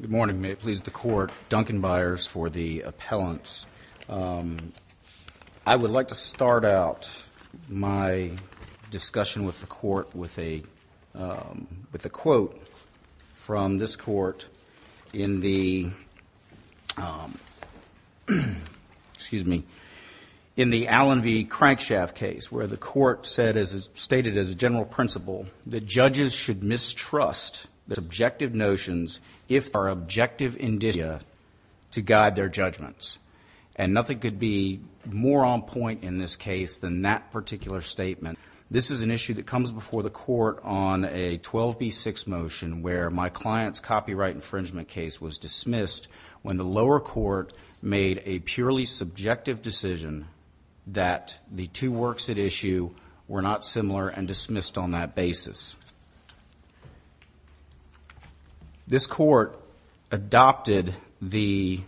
Good morning. May it please the court, Duncan Byers for the appellants. I would like to start out my discussion with the court with a quote from this court in the Allen v. Crankshaft case where the court stated as a general principle that judges should mistrust the subjective notions if our objective indicia to guide their judgments. And nothing could be more on point in this case than that particular statement. This is an issue that comes before the court on a 12b6 motion where my client's copyright infringement case was dismissed when the lower court made a purely subjective decision that the two works at issue were not similar and dismissed on that basis. This court adopted the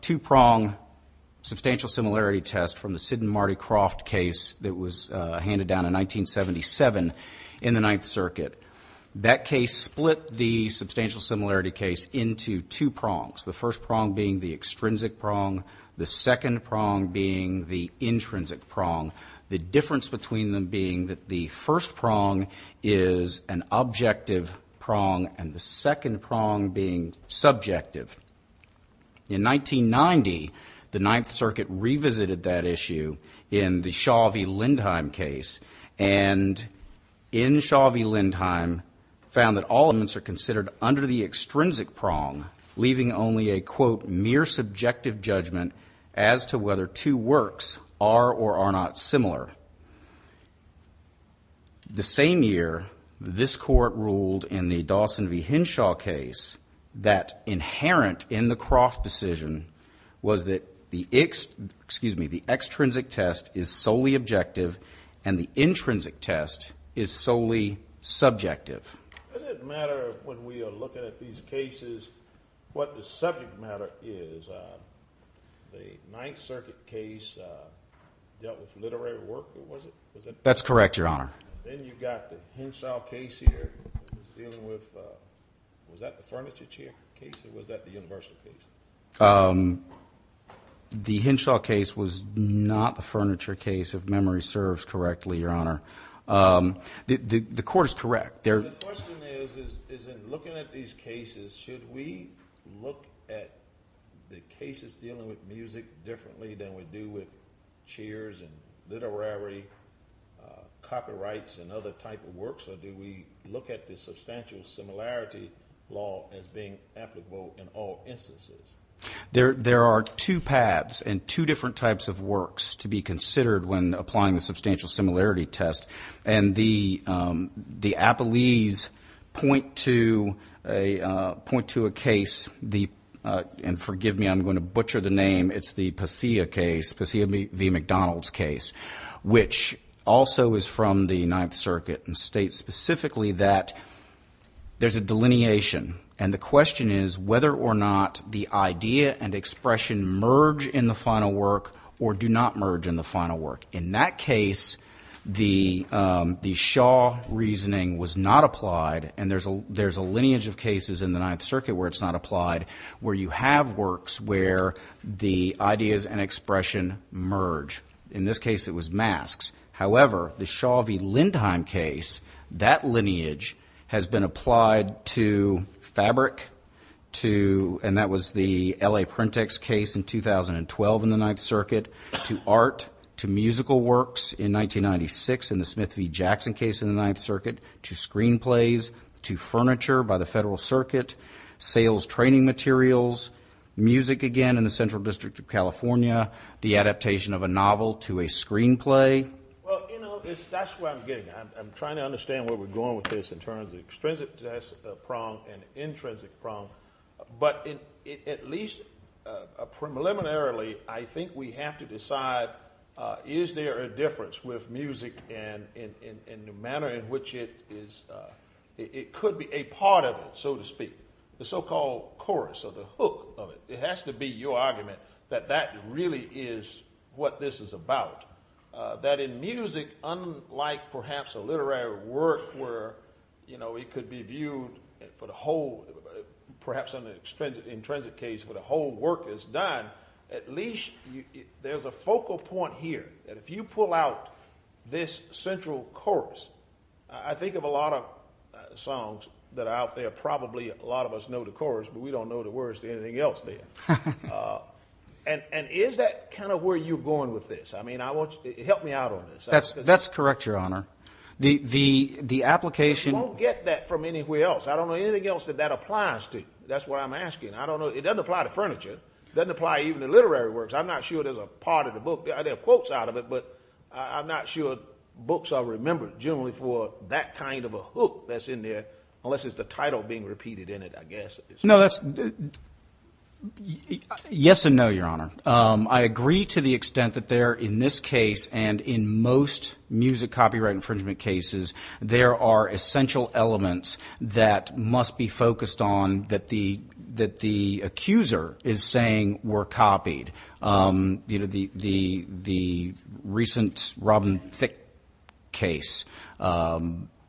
two-prong substantial similarity test from the Sid and Marty Croft case that was handed down in 1977 in the Ninth Circuit. That case split the substantial similarity case into two prongs, the first prong being the extrinsic prong, the second prong being the intrinsic prong, the difference between them being that the first prong is an objective prong and the second prong being subjective. In 1990, the Ninth Circuit revisited that issue in the Shaw v. Lindheim case and in Shaw v. Lindheim found that all elements are considered under the extrinsic prong leaving only a quote mere subjective judgment as to whether two works are or are not similar. The same year, this court ruled in the Dawson v. Henshaw case that inherent in the Croft decision was that the extrinsic test is solely objective and the intrinsic test is solely subjective. Does it matter when we are looking at these cases what the subject matter is? The Ninth Circuit case dealt with literary work, was it? That's correct, Your Honor. Then you've got the Henshaw case here dealing with, was that the furniture case or was that the universal case? The Henshaw case was not the furniture case, if memory serves correctly, Your Honor. The court is correct. The question is, is in looking at these cases, should we look at the cases dealing with music differently than we do with cheers and literary copyrights or do we look at the substantial similarity law as being applicable in all instances? There are two paths and two different types of works to be considered when applying the substantial similarity test. The Apolles point to a case, and forgive me, I'm going to butcher the name, it's the Pacea case, Pacea v. McDonald's case, which also is from the Ninth Circuit and states specifically that there's a delineation and the question is whether or not the idea and expression merge in the final work or do not merge in the final work. In that case, the Shaw reasoning was not applied and there's a lineage of cases in the Ninth Circuit where it's not applied, where you have works where the ideas and expression merge. In this case, it was masks. However, the Shaw v. Lindheim case, that lineage has been applied to fabric, and that was the L.A. Printex case in 2012 in the Ninth Circuit, to art, to musical works in 1996 in the Smith v. Jackson case in the Ninth Circuit, to screenplays, to furniture by the Federal Circuit, sales training materials, music again in the Central District of California, the adaptation of a novel to a screenplay. Well, you know, that's where I'm getting at. I'm trying to understand where we're going with this in terms of the extrinsic prong and intrinsic prong, but at least preliminarily, I think we have to decide is there a difference with music in the manner in which it could be a part of it, so to speak, the so-called chorus or the hook of it. It has to be your argument that that really is what this is about. That in music, unlike perhaps a literary work where it could be viewed for the whole, perhaps an intrinsic case where the whole work is done, at least there's a focal point here that if you pull out this central chorus, I think of a lot of songs that are out there, probably a lot of us know the chorus, but we don't know the words to anything else there. And is that kind of where you're going with this? I mean, help me out on this. That's correct, Your Honor. The application— You won't get that from anywhere else. I don't know anything else that that applies to. That's what I'm asking. I don't know. It doesn't apply to furniture. It doesn't apply even to literary works. I'm not sure there's a part of the book. There are quotes out of it, but I'm not sure books are remembered generally for that kind of a hook that's in there unless it's the title being repeated in it, I guess. No, that's—yes and no, Your Honor. I agree to the extent that there, in this case and in most music copyright infringement cases, there are essential elements that must be focused on that the accuser is saying were copied. You know, the recent Robin Thicke case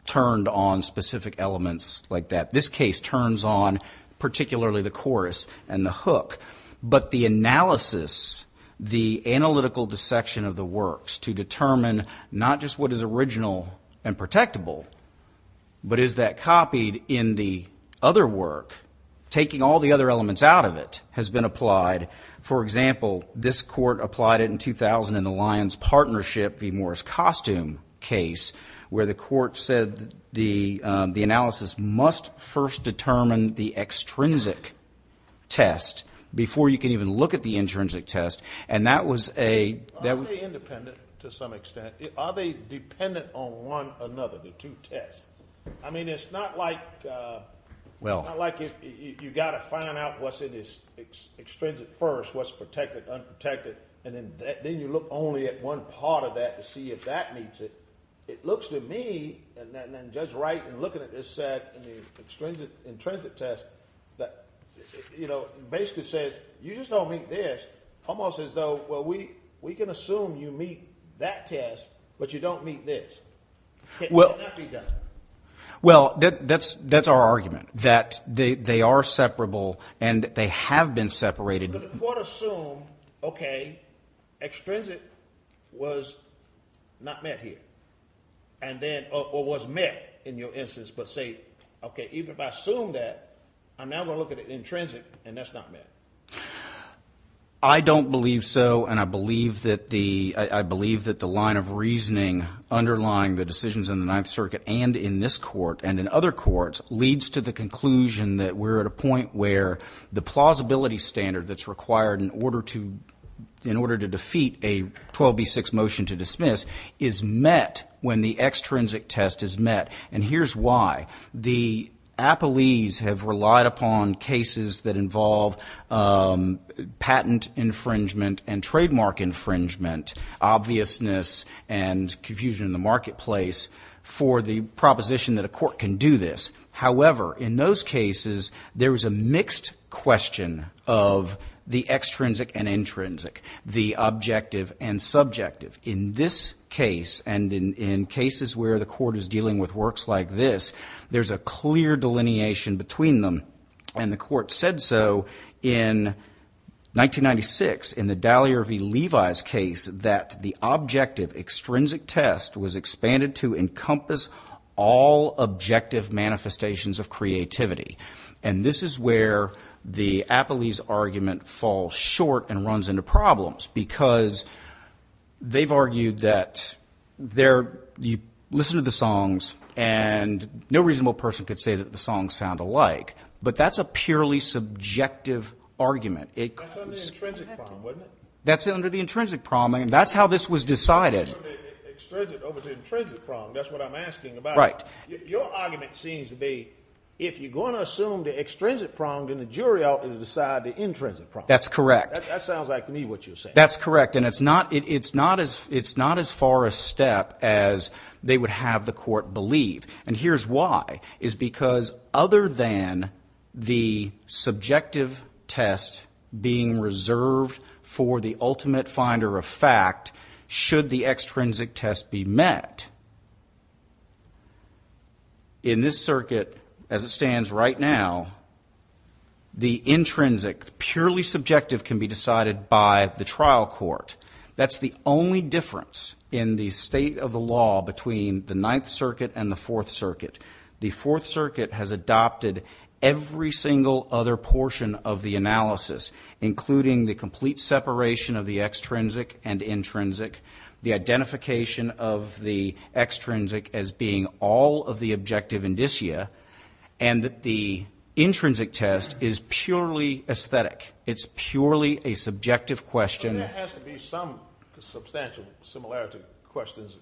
turned on specific elements like that. This case turns on particularly the chorus and the hook. But the analysis, the analytical dissection of the works to determine not just what is original and protectable, but is that copied in the other work, taking all the other elements out of it, has been applied. For example, this court applied it in 2000 in the Lions Partnership v. Morris Costume case where the court said the analysis must first determine the extrinsic test before you can even look at the intrinsic test. And that was a— Are they independent to some extent? Are they dependent on one another, the two tests? I mean, it's not like you've got to find out what's in this extrinsic first, what's protected, unprotected, and then you look only at one part of that to see if that meets it. It looks to me, and Judge Wright, in looking at this set in the intrinsic test, basically says you just don't meet this, almost as though, well, we can assume you meet that test, but you don't meet this. Can that be done? Well, that's our argument, that they are separable and they have been separated. But the court assumed, okay, extrinsic was not met here, or was met in your instance, but say, okay, even if I assume that, I'm now going to look at the intrinsic, and that's not met. I don't believe so, and I believe that the line of reasoning underlying the decisions in the Ninth Circuit and in this court and in other courts leads to the conclusion that we're at a point where the plausibility standard that's required in order to defeat a 12b-6 motion to dismiss is met when the extrinsic test is met. And here's why. The appellees have relied upon cases that involve patent infringement and trademark infringement, obviousness and confusion in the marketplace, for the proposition that a court can do this. However, in those cases, there was a mixed question of the extrinsic and intrinsic, the objective and subjective. In this case and in cases where the court is dealing with works like this, there's a clear delineation between them, and the court said so in 1996, in the Dallier v. Levi's case, that the objective extrinsic test was expanded to encompass all objective manifestations of creativity. And this is where the appellee's argument falls short and runs into problems, because they've argued that you listen to the songs, and no reasonable person could say that the songs sound alike, but that's a purely subjective argument. That's under the intrinsic problem, wasn't it? That's under the intrinsic problem, and that's how this was decided. Extrinsic over the intrinsic problem, that's what I'm asking about. Right. Your argument seems to be if you're going to assume the extrinsic problem, then the jury ought to decide the intrinsic problem. That's correct. That sounds like to me what you're saying. That's correct, and it's not as far a step as they would have the court believe. And here's why, is because other than the subjective test being reserved for the ultimate finder of fact, should the extrinsic test be met, in this circuit as it stands right now, the intrinsic, purely subjective can be decided by the trial court. That's the only difference in the state of the law between the Ninth Circuit and the Fourth Circuit. The Fourth Circuit has adopted every single other portion of the analysis, including the complete separation of the extrinsic and intrinsic, the identification of the extrinsic as being all of the objective indicia, and that the intrinsic test is purely aesthetic. It's purely a subjective question. There has to be some substantial similarity questions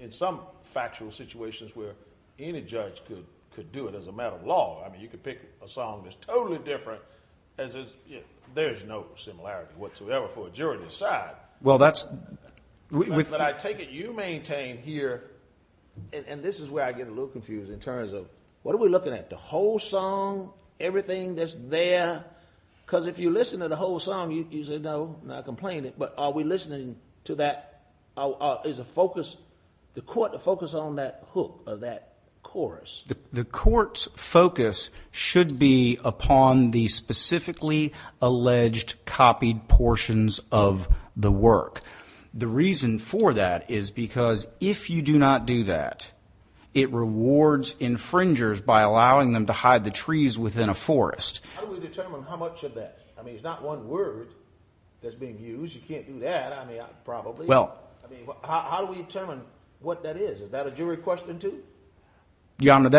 in some factual situations where any judge could do it as a matter of law. I mean, you could pick a song that's totally different, and there's no similarity whatsoever for a jury to decide. But I take it you maintain here, and this is where I get a little confused in terms of, what are we looking at, the whole song, everything that's there? Because if you listen to the whole song, you say, no, I'm not complaining. But are we listening to that? Is the court to focus on that hook or that chorus? The court's focus should be upon the specifically alleged copied portions of the work. The reason for that is because if you do not do that, it rewards infringers by allowing them to hide the trees within a forest. How do we determine how much of that? I mean, it's not one word that's being used. You can't do that, I mean, probably. Well. I mean, how do we determine what that is? Is that a jury question too? Your Honor,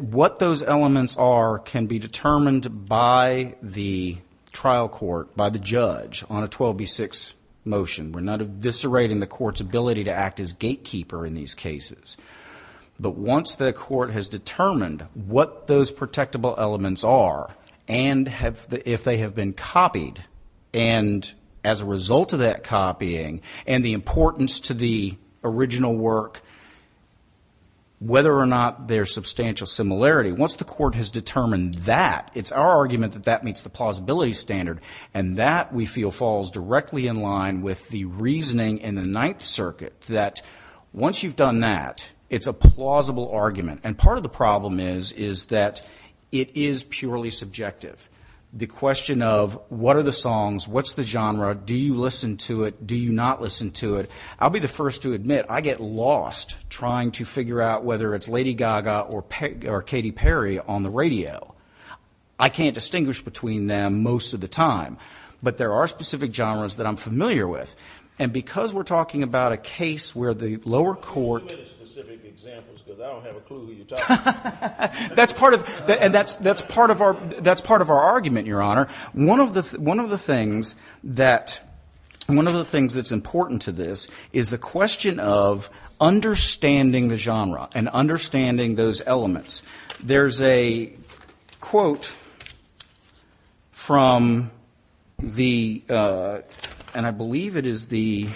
what those elements are can be determined by the trial court, by the judge, on a 12b6 motion. We're not eviscerating the court's ability to act as gatekeeper in these cases. But once the court has determined what those protectable elements are, and if they have been copied, and as a result of that copying, and the importance to the original work, whether or not there's substantial similarity, once the court has determined that, it's our argument that that meets the plausibility standard, and that, we feel, falls directly in line with the reasoning in the Ninth Circuit, that once you've done that, it's a plausible argument. And part of the problem is, is that it is purely subjective. The question of what are the songs, what's the genre, do you listen to it, do you not listen to it. I'll be the first to admit, I get lost trying to figure out whether it's Lady Gaga or Katy Perry on the radio. I can't distinguish between them most of the time. But there are specific genres that I'm familiar with. And because we're talking about a case where the lower court. Can you give me the specific examples, because I don't have a clue who you're talking about. That's part of our argument, Your Honor. One of the things that's important to this is the question of understanding the genre and understanding those elements. There's a quote from the, and I believe it is the,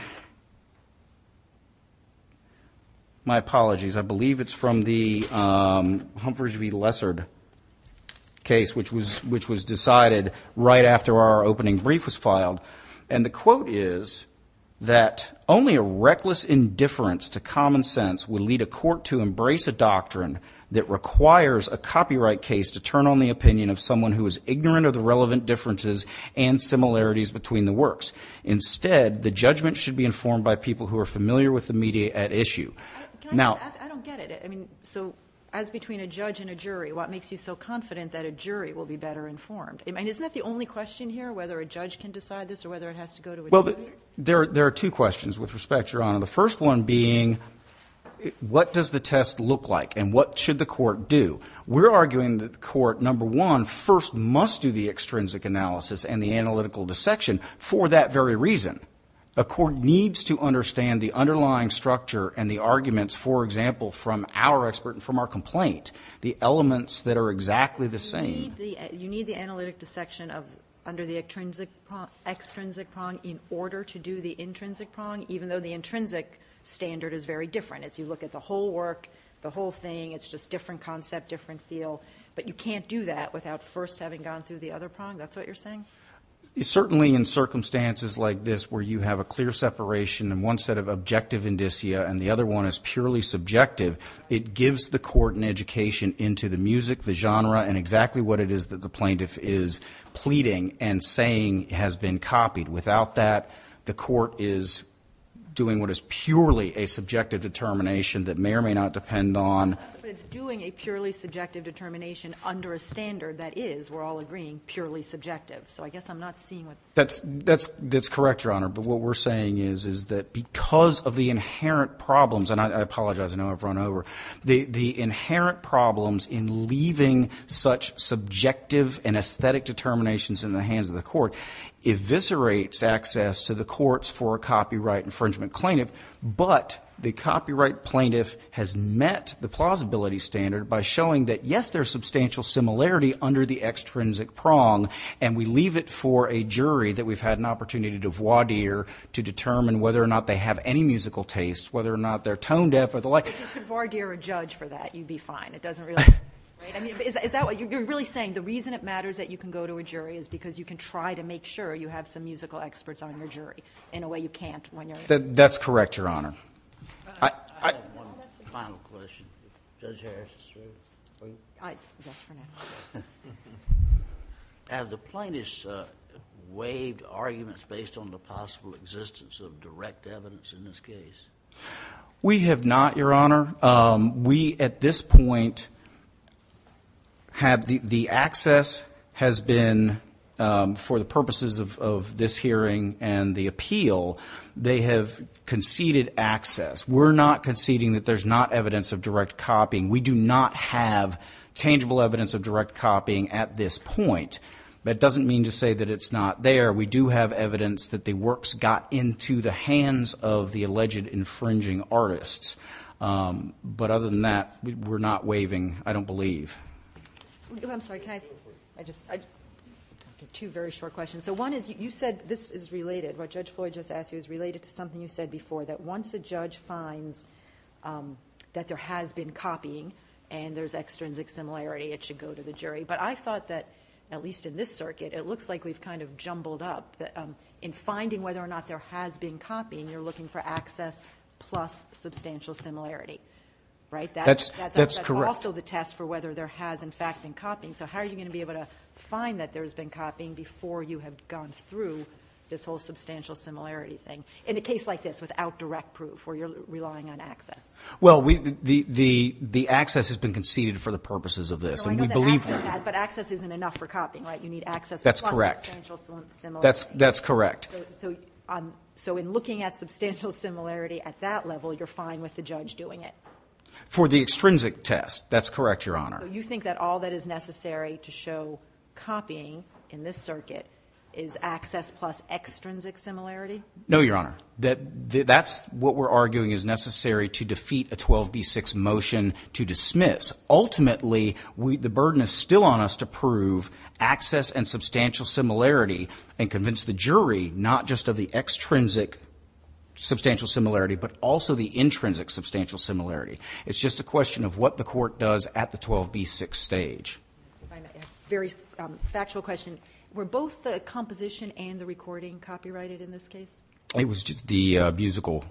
my apologies. I believe it's from the Humphrey v. Lessard case, which was decided right after our opening brief was filed. And the quote is that only a reckless indifference to common sense will lead a court to embrace a doctrine that requires a copyright case to turn on the opinion of someone who is ignorant of the relevant differences and similarities between the works. Instead, the judgment should be informed by people who are familiar with the media at issue. Now. I don't get it. I mean, so as between a judge and a jury, what makes you so confident that a jury will be better informed? I mean, isn't that the only question here, whether a judge can decide this or whether it has to go to a jury? Well, there are two questions with respect, Your Honor. The first one being what does the test look like and what should the court do? We're arguing that the court, number one, first must do the extrinsic analysis and the analytical dissection for that very reason. A court needs to understand the underlying structure and the arguments, for example, from our expert and from our complaint, the elements that are exactly the same. You need the analytic dissection under the extrinsic prong in order to do the intrinsic prong, even though the intrinsic standard is very different. As you look at the whole work, the whole thing, it's just different concept, different feel. But you can't do that without first having gone through the other prong? That's what you're saying? Certainly in circumstances like this where you have a clear separation and one set of objective indicia and the other one is purely subjective, it gives the court an education into the music, the genre, and exactly what it is that the plaintiff is pleading and saying has been copied. Without that, the court is doing what is purely a subjective determination that may or may not depend on. But it's doing a purely subjective determination under a standard that is, we're all agreeing, purely subjective. So I guess I'm not seeing what the point is. That's correct, Your Honor. But what we're saying is, is that because of the inherent problems, and I apologize, I know I've run over. The inherent problems in leaving such subjective and aesthetic determinations in the hands of the court eviscerates access to the courts for a copyright infringement plaintiff. But the copyright plaintiff has met the plausibility standard by showing that, yes, there's substantial similarity under the extrinsic prong. And we leave it for a jury that we've had an opportunity to voir dire to determine whether or not they have any musical taste, whether or not they're tone deaf or the like. If you could voir dire a judge for that, you'd be fine. It doesn't really matter. Right? I mean, is that what you're really saying? The reason it matters that you can go to a jury is because you can try to make sure you have some musical experts on your jury in a way you can't when you're- That's correct, Your Honor. I have one final question. Judge Harris is free. Yes, for now. Have the plaintiffs waived arguments based on the possible existence of direct evidence in this case? We have not, Your Honor. We, at this point, have the access has been for the purposes of this hearing and the appeal, they have conceded access. We're not conceding that there's not evidence of direct copying. We do not have tangible evidence of direct copying at this point. That doesn't mean to say that it's not there. We do have evidence that the works got into the hands of the alleged infringing artists. But other than that, we're not waiving, I don't believe. I'm sorry, can I just- I have two very short questions. So one is you said this is related, what Judge Floyd just asked you is related to something you said before, that once a judge finds that there has been copying and there's extrinsic similarity, it should go to the jury. But I thought that, at least in this circuit, it looks like we've kind of jumbled up. In finding whether or not there has been copying, you're looking for access plus substantial similarity, right? That's correct. That's also the test for whether there has, in fact, been copying. So how are you going to be able to find that there has been copying before you have gone through this whole substantial similarity thing? In a case like this, without direct proof, where you're relying on access. Well, the access has been conceded for the purposes of this. I know that access has, but access isn't enough for copying, right? You need access plus substantial similarity. That's correct. So in looking at substantial similarity at that level, you're fine with the judge doing it? For the extrinsic test, that's correct, Your Honor. So you think that all that is necessary to show copying in this circuit is access plus extrinsic similarity? No, Your Honor. That's what we're arguing is necessary to defeat a 12b-6 motion to dismiss. Ultimately, the burden is still on us to prove access and substantial similarity and convince the jury not just of the extrinsic substantial similarity but also the intrinsic substantial similarity. It's just a question of what the court does at the 12b-6 stage. A very factual question. Were both the composition and the recording copyrighted in this case? It was just the musical.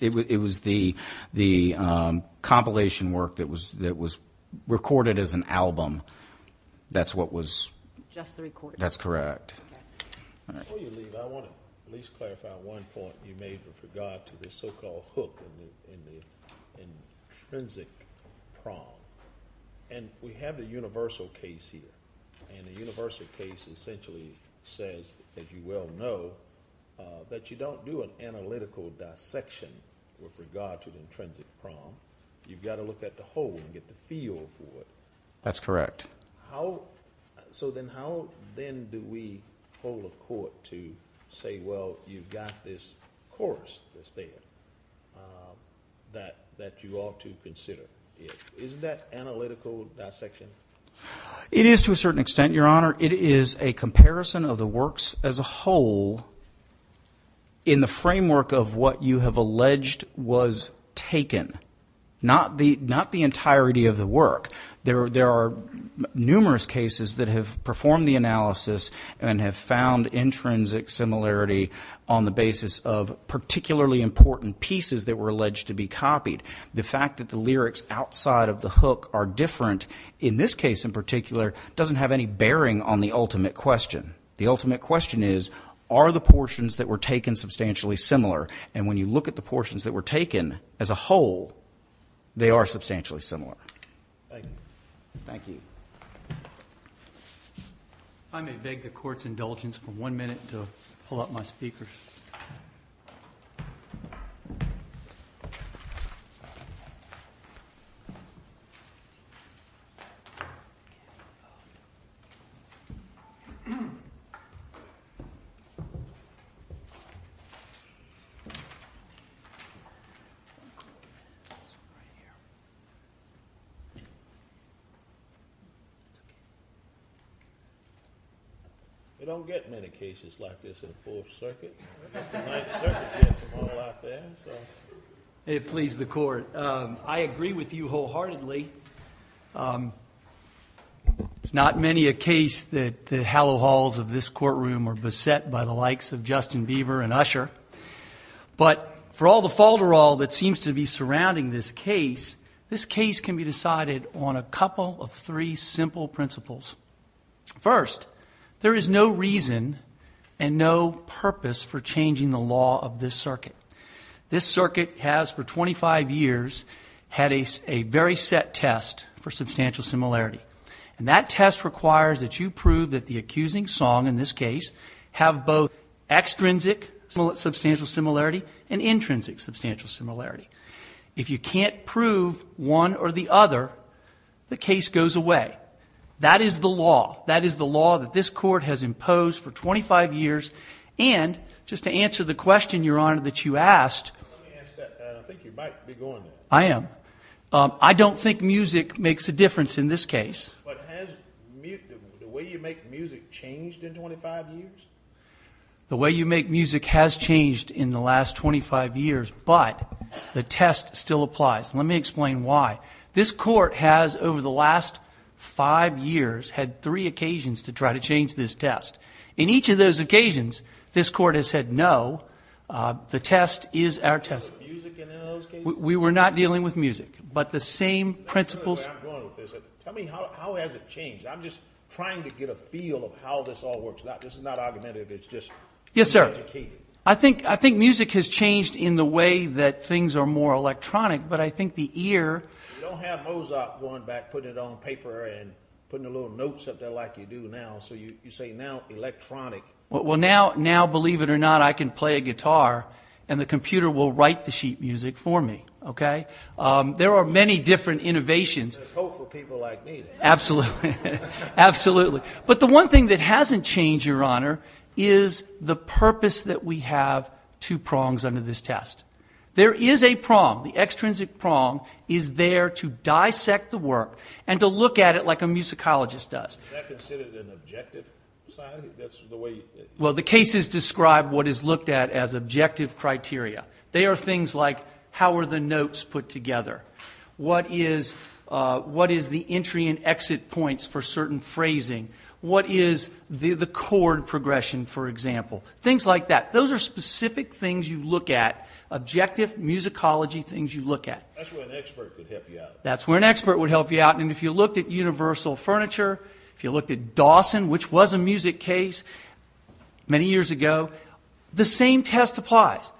It was the compilation work that was recorded as an album. That's what was just the recording. That's correct. Before you leave, I want to at least clarify one point you made with regard to this so-called hook in the intrinsic prong. We have the universal case here, and the universal case essentially says, as you well know, that you don't do an analytical dissection with regard to the intrinsic prong. You've got to look at the whole and get the feel for it. That's correct. So then how then do we hold a court to say, well, you've got this chorus that's there that you ought to consider? Isn't that analytical dissection? It is to a certain extent, Your Honor. It is a comparison of the works as a whole in the framework of what you have alleged was taken, not the entirety of the work. There are numerous cases that have performed the analysis and have found intrinsic similarity on the basis of particularly important pieces that were alleged to be copied. The fact that the lyrics outside of the hook are different in this case in particular doesn't have any bearing on the ultimate question. The ultimate question is, are the portions that were taken substantially similar? And when you look at the portions that were taken as a whole, they are substantially similar. Thank you. I may beg the court's indulgence for one minute to pull up my speakers. We don't get many cases like this in the Fourth Circuit. The Ninth Circuit gets them all out there. May it please the court. I agree with you wholeheartedly. It's not many a case that the hallow halls of this courtroom are beset by the likes of Justin Beaver and Usher. But for all the falderal that seems to be surrounding this case, this case can be decided on a couple of three simple principles. First, there is no reason and no purpose for changing the law of this circuit. This circuit has for 25 years had a very set test for substantial similarity. And that test requires that you prove that the accusing song in this case have both extrinsic substantial similarity and intrinsic substantial similarity. If you can't prove one or the other, the case goes away. That is the law. That is the law that this court has imposed for 25 years. And just to answer the question, Your Honor, that you asked. Let me ask that. I don't think you might be going there. I am. I don't think music makes a difference in this case. The way you make music has changed in the last 25 years, but the test still applies. Let me explain why. This court has, over the last five years, had three occasions to try to change this test. In each of those occasions, this court has said no. The test is our test. We were not dealing with music. But the same principles. Tell me, how has it changed? I'm just trying to get a feel of how this all works. This is not argumentative. It's just being educated. Yes, sir. I think music has changed in the way that things are more electronic, but I think the ear. You don't have Mozart going back, putting it on paper and putting the little notes up there like you do now. So you say now electronic. Now, believe it or not, I can play a guitar and the computer will write the sheet music for me. There are many different innovations. There's hope for people like me. Absolutely. But the one thing that hasn't changed, Your Honor, is the purpose that we have two prongs under this test. There is a prong. The extrinsic prong is there to dissect the work and to look at it like a musicologist does. Is that considered an objective side? Well, the cases describe what is looked at as objective criteria. They are things like how are the notes put together? What is the entry and exit points for certain phrasing? What is the chord progression, for example? Things like that. Those are specific things you look at, objective musicology things you look at. That's where an expert would help you out. That's where an expert would help you out. And if you looked at universal furniture, if you looked at Dawson, which was a music case many years ago, the same test applies.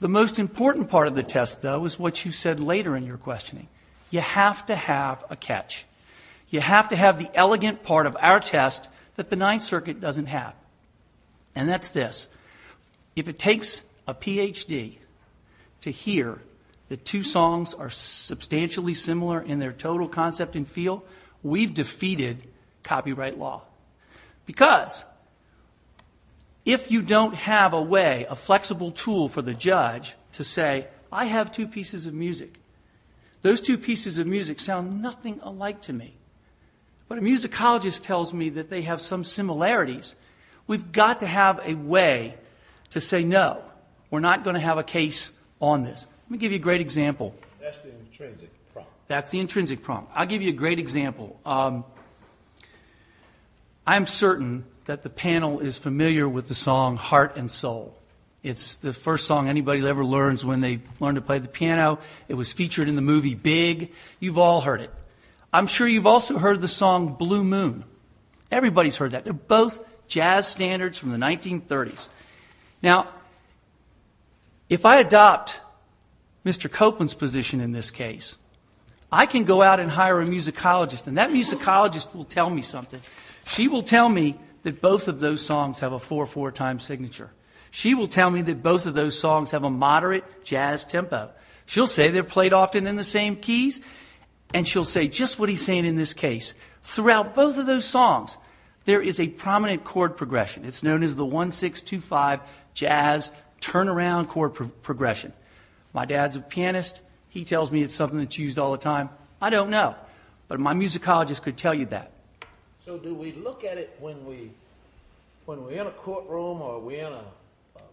The most important part of the test, though, is what you said later in your questioning. You have to have a catch. You have to have the elegant part of our test that the Ninth Circuit doesn't have, and that's this. If it takes a PhD to hear that two songs are substantially similar in their total concept and feel, we've defeated copyright law. Because if you don't have a way, a flexible tool for the judge to say, I have two pieces of music. Those two pieces of music sound nothing alike to me. But a musicologist tells me that they have some similarities. We've got to have a way to say, no, we're not going to have a case on this. Let me give you a great example. That's the intrinsic problem. I'll give you a great example. I'm certain that the panel is familiar with the song Heart and Soul. It's the first song anybody ever learns when they learn to play the piano. It was featured in the movie Big. You've all heard it. I'm sure you've also heard the song Blue Moon. Everybody's heard that. They're both jazz standards from the 1930s. Now, if I adopt Mr. Copeland's position in this case, I can go out and hire a musicologist, and that musicologist will tell me something. She will tell me that both of those songs have a 4-4 time signature. She will tell me that both of those songs have a moderate jazz tempo. She'll say they're played often in the same keys, and she'll say just what he's saying in this case. Throughout both of those songs, there is a prominent chord progression. It's known as the 1-6-2-5 jazz turnaround chord progression. My dad's a pianist. He tells me it's something that's used all the time. I don't know, but my musicologist could tell you that. So do we look at it when we're in a courtroom or we're in a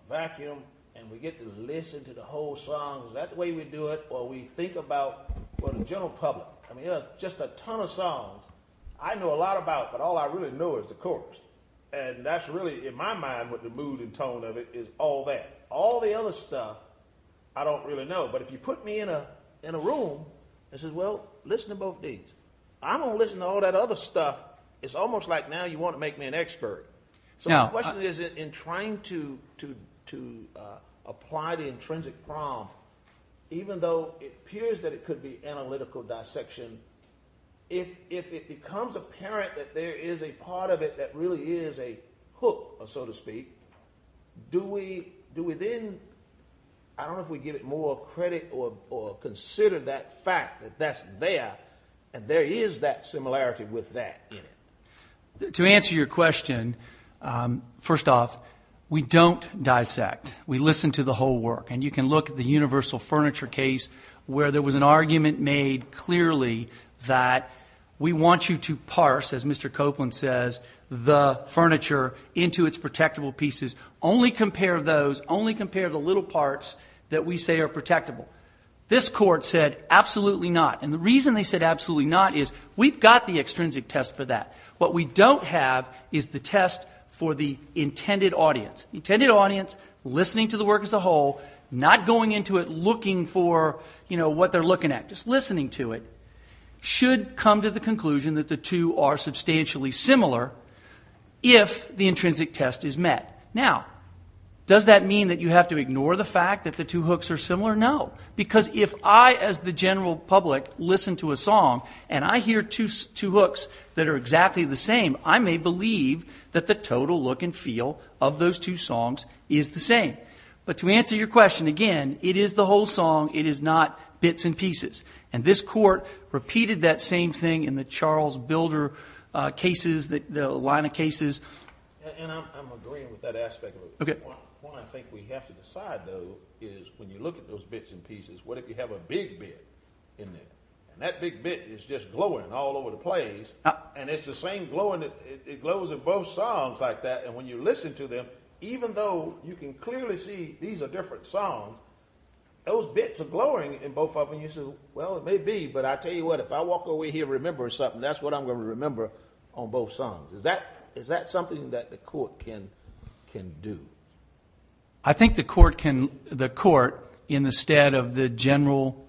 vacuum and we get to listen to the whole song? Is that the way we do it, or we think about the general public? I mean, there's just a ton of songs I know a lot about, but all I really know is the chorus, and that's really, in my mind, what the mood and tone of it is all that. All the other stuff I don't really know, but if you put me in a room and said, well, listen to both these, I'm going to listen to all that other stuff. It's almost like now you want to make me an expert. So my question is in trying to apply the intrinsic prompt, even though it appears that it could be analytical dissection, if it becomes apparent that there is a part of it that really is a hook, so to speak, do we then, I don't know if we give it more credit or consider that fact that that's there and there is that similarity with that. To answer your question, first off, we don't dissect. We listen to the whole work, and you can look at the universal furniture case where there was an argument made clearly that we want you to parse, as Mr. Copeland says, the furniture into its protectable pieces. Only compare those. Only compare the little parts that we say are protectable. This court said absolutely not, and the reason they said absolutely not is we've got the extrinsic test for that. What we don't have is the test for the intended audience. The intended audience listening to the work as a whole, not going into it looking for what they're looking at, just listening to it, should come to the conclusion that the two are substantially similar if the intrinsic test is met. Now, does that mean that you have to ignore the fact that the two hooks are similar? No, because if I, as the general public, listen to a song and I hear two hooks that are exactly the same, I may believe that the total look and feel of those two songs is the same. But to answer your question, again, it is the whole song. It is not bits and pieces. And this court repeated that same thing in the Charles Builder cases, the line of cases. And I'm agreeing with that aspect of it. One I think we have to decide, though, is when you look at those bits and pieces, what if you have a big bit in there, and that big bit is just glowing all over the place, and it's the same glowing that glows in both songs like that, and when you listen to them, even though you can clearly see these are different songs, those bits are glowing in both of them. You say, well, it may be, but I tell you what, if I walk away here remembering something, that's what I'm going to remember on both songs. Is that something that the court can do? I think the court, in the stead of the general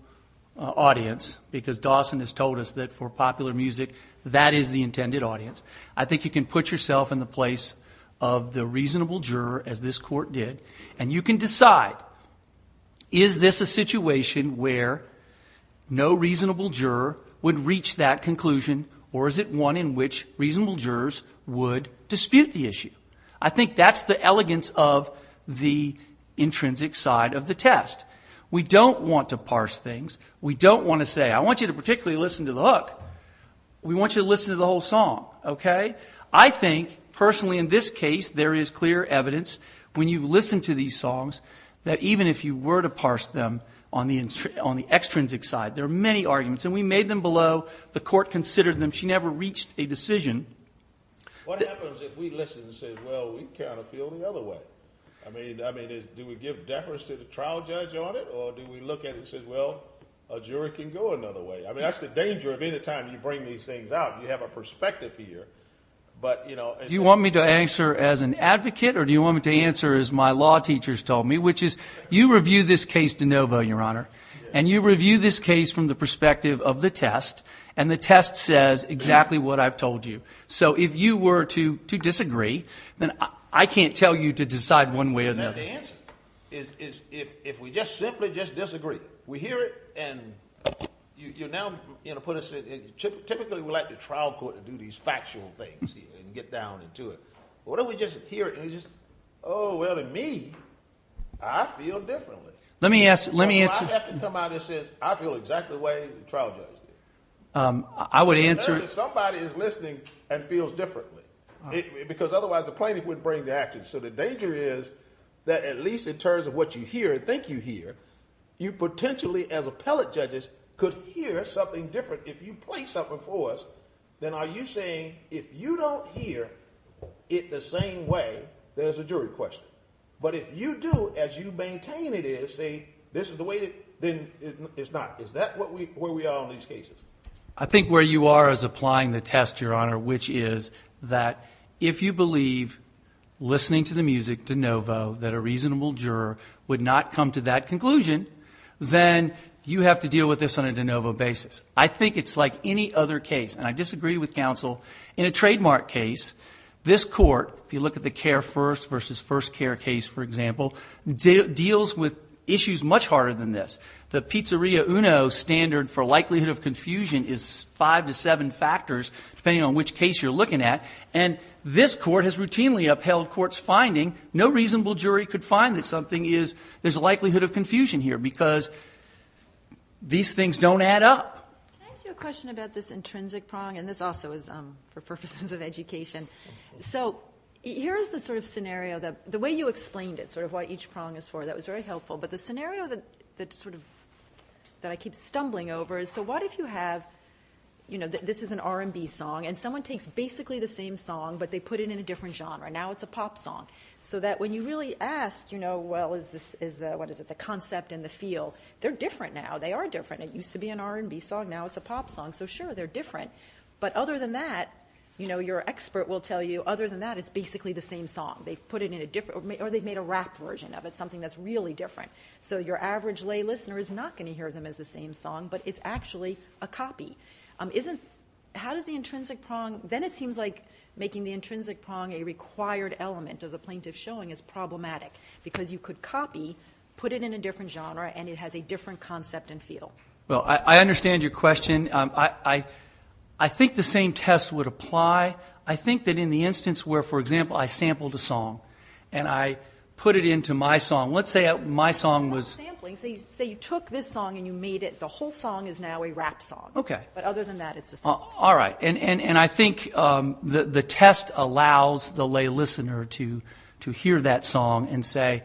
audience, because Dawson has told us that for popular music that is the intended audience, I think you can put yourself in the place of the reasonable juror, as this court did, and you can decide is this a situation where no reasonable juror would reach that conclusion or is it one in which reasonable jurors would dispute the issue. I think that's the elegance of the intrinsic side of the test. We don't want to parse things. We don't want to say, I want you to particularly listen to the hook. We want you to listen to the whole song, okay? I think personally in this case there is clear evidence when you listen to these songs that even if you were to parse them on the extrinsic side, there are many arguments, and we made them below. The court considered them. She never reached a decision. What happens if we listen and say, well, we kind of feel the other way? I mean, do we give deference to the trial judge on it or do we look at it and say, well, a juror can go another way? I mean, that's the danger of any time you bring these things out. You have a perspective here. Do you want me to answer as an advocate or do you want me to answer as my law teachers told me, which is you review this case de novo, Your Honor, and you review this case from the perspective of the test, and the test says exactly what I've told you. So if you were to disagree, then I can't tell you to decide one way or the other. The answer is if we just simply just disagree. We hear it, and you're now going to put us in a chip. Typically, we like the trial court to do these factual things and get down into it. Why don't we just hear it and just, oh, well, to me, I feel differently. Let me answer. I have to come out and say I feel exactly the way the trial judge did. I would answer. Somebody is listening and feels differently because otherwise the plaintiff wouldn't bring the action. So the danger is that at least in terms of what you hear and think you hear, you potentially as appellate judges could hear something different. If you play something for us, then are you saying if you don't hear it the same way, there's a jury question. But if you do, as you maintain it is, say this is the way, then it's not. Is that where we are on these cases? which is that if you believe listening to the music de novo that a reasonable juror would not come to that conclusion, then you have to deal with this on a de novo basis. I think it's like any other case, and I disagree with counsel. In a trademark case, this court, if you look at the care first versus first care case, for example, deals with issues much harder than this. The pizzeria uno standard for likelihood of confusion is five to seven factors, depending on which case you're looking at. And this court has routinely upheld court's finding. No reasonable jury could find that something is, there's a likelihood of confusion here because these things don't add up. Can I ask you a question about this intrinsic prong? And this also is for purposes of education. So here is the sort of scenario, the way you explained it, sort of what each prong is for, that was very helpful. But the scenario that I keep stumbling over is, so what if you have, you know, this is an R&B song, and someone takes basically the same song, but they put it in a different genre. Now it's a pop song. So that when you really ask, you know, well, is the concept and the feel, they're different now. They are different. It used to be an R&B song. Now it's a pop song. So sure, they're different. But other than that, you know, your expert will tell you, other than that, it's basically the same song. They've put it in a different, or they've made a rap version of it, something that's really different. So your average lay listener is not going to hear them as the same song, but it's actually a copy. How does the intrinsic prong, then it seems like making the intrinsic prong a required element of the plaintiff's showing is problematic because you could copy, put it in a different genre, and it has a different concept and feel. Well, I understand your question. I think the same test would apply. I think that in the instance where, for example, I sampled a song and I put it into my song, let's say my song was. You're not sampling. Say you took this song and you made it, the whole song is now a rap song. Okay. But other than that, it's the same. All right. And I think the test allows the lay listener to hear that song and say,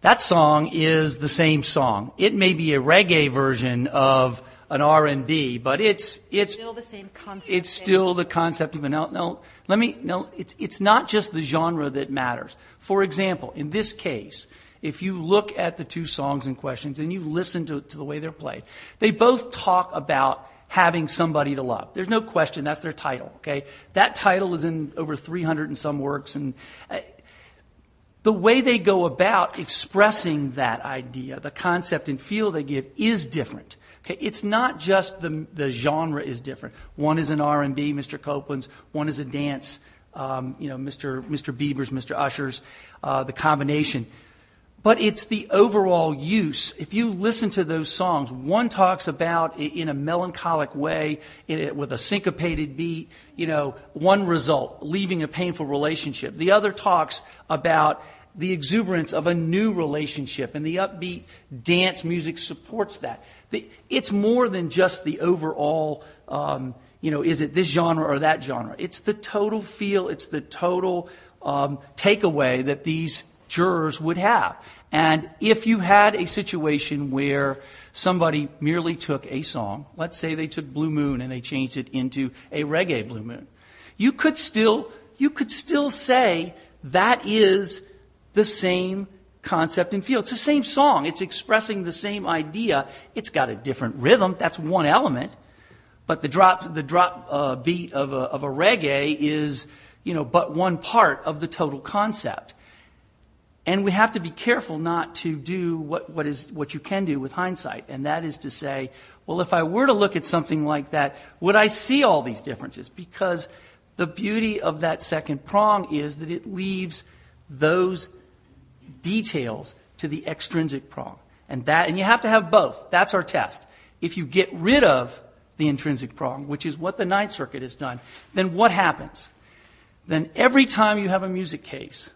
that song is the same song. It may be a reggae version of an R&B, but it's. It's still the same concept. It's still the concept of an R&B. It's not just the genre that matters. For example, in this case, if you look at the two songs in question and you listen to the way they're played, they both talk about having somebody to love. There's no question. That's their title. That title is in over 300 and some works. The way they go about expressing that idea, the concept and feel they give is different. It's not just the genre is different. One is an R&B, Mr. Copeland's. One is a dance, you know, Mr. Bieber's, Mr. Usher's, the combination. But it's the overall use. If you listen to those songs, one talks about in a melancholic way with a syncopated beat, you know, one result, leaving a painful relationship. The other talks about the exuberance of a new relationship, and the upbeat dance music supports that. It's more than just the overall, you know, is it this genre or that genre. It's the total feel. It's the total takeaway that these jurors would have. And if you had a situation where somebody merely took a song, let's say they took Blue Moon and they changed it into a reggae Blue Moon, you could still say that is the same concept and feel. It's the same song. It's expressing the same idea. It's got a different rhythm. That's one element. But the drop beat of a reggae is, you know, but one part of the total concept. And we have to be careful not to do what you can do with hindsight, and that is to say, well, if I were to look at something like that, would I see all these differences? Because the beauty of that second prong is that it leaves those details to the extrinsic prong. And you have to have both. That's our test. If you get rid of the intrinsic prong, which is what the Ninth Circuit has done, then what happens? Then every time you have a music case,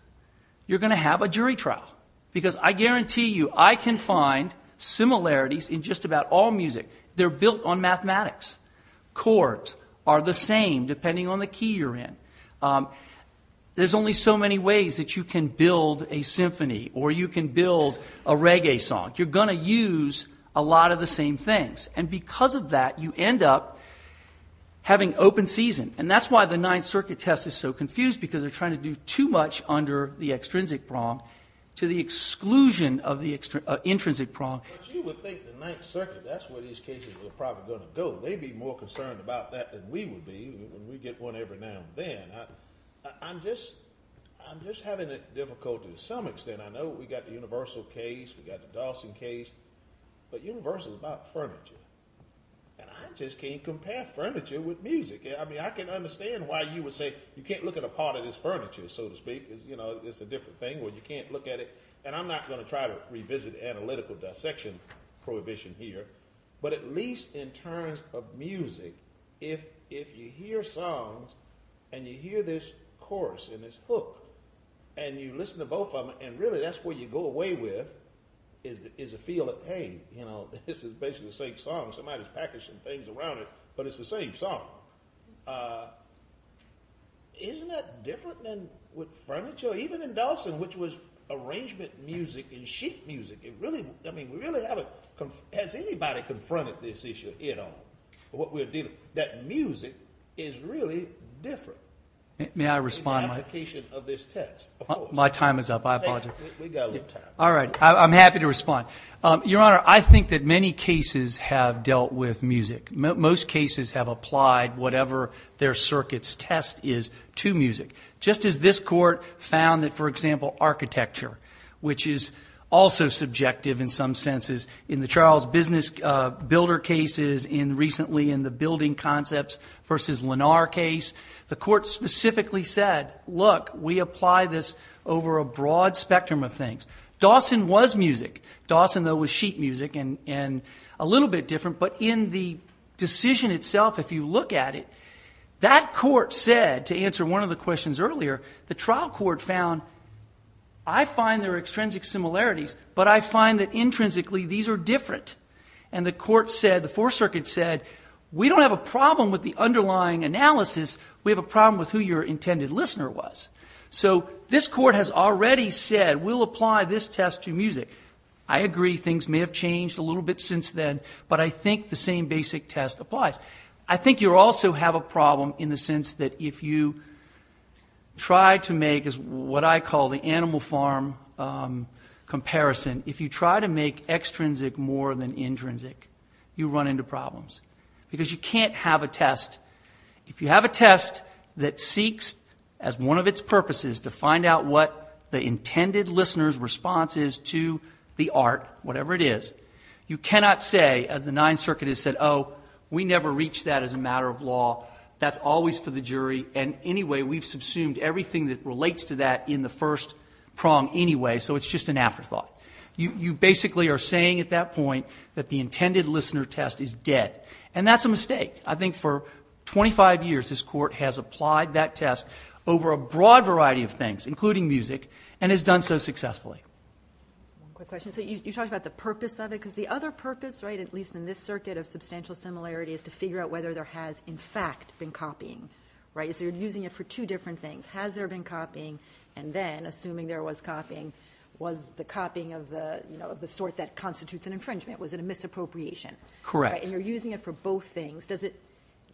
you're going to have a jury trial. Because I guarantee you, I can find similarities in just about all music. They're built on mathematics. Chords are the same, depending on the key you're in. There's only so many ways that you can build a symphony or you can build a reggae song. You're going to use a lot of the same things. And because of that, you end up having open season. And that's why the Ninth Circuit test is so confused, because they're trying to do too much under the extrinsic prong to the exclusion of the intrinsic prong. But you would think the Ninth Circuit, that's where these cases were probably going to go. They'd be more concerned about that than we would be when we get one every now and then. I'm just having difficulty to some extent. I know we've got the Universal case, we've got the Dawson case. But Universal is about furniture. And I just can't compare furniture with music. I mean, I can understand why you would say you can't look at a part of this furniture, so to speak. It's a different thing where you can't look at it. And I'm not going to try to revisit analytical dissection prohibition here. But at least in terms of music, if you hear songs and you hear this chorus and this hook, and you listen to both of them, and really that's what you go away with, is a feel of pain. This is basically the same song. Somebody's packaging things around it, but it's the same song. Isn't that different than with furniture? You know, even in Dawson, which was arrangement music and sheet music, I mean, has anybody confronted this issue at all? That music is really different. May I respond, Mike? In the application of this test? My time is up. I apologize. We've got a little time. All right. I'm happy to respond. Your Honor, I think that many cases have dealt with music. Most cases have applied whatever their circuit's test is to music. Just as this court found that, for example, architecture, which is also subjective in some senses in the Charles Business Builder cases and recently in the building concepts versus Lenar case, the court specifically said, look, we apply this over a broad spectrum of things. Dawson was music. Dawson, though, was sheet music and a little bit different. But in the decision itself, if you look at it, that court said, to answer one of the questions earlier, the trial court found I find there are extrinsic similarities, but I find that intrinsically these are different. And the court said, the Fourth Circuit said, we don't have a problem with the underlying analysis. We have a problem with who your intended listener was. So this court has already said we'll apply this test to music. I agree things may have changed a little bit since then, but I think the same basic test applies. I think you also have a problem in the sense that if you try to make, as what I call the animal farm comparison, if you try to make extrinsic more than intrinsic, you run into problems because you can't have a test. If you have a test that seeks, as one of its purposes, to find out what the intended listener's response is to the art, whatever it is, you cannot say, as the Ninth Circuit has said, oh, we never reached that as a matter of law. That's always for the jury, and anyway, we've subsumed everything that relates to that in the first prong anyway, so it's just an afterthought. You basically are saying at that point that the intended listener test is dead, and that's a mistake. I think for 25 years this court has applied that test over a broad variety of things, including music, and has done so successfully. One quick question. So you talked about the purpose of it, because the other purpose, right, at least in this circuit of substantial similarity, is to figure out whether there has in fact been copying, right? So you're using it for two different things. Has there been copying? And then, assuming there was copying, was the copying of the sort that constitutes an infringement? Was it a misappropriation? Correct. And you're using it for both things.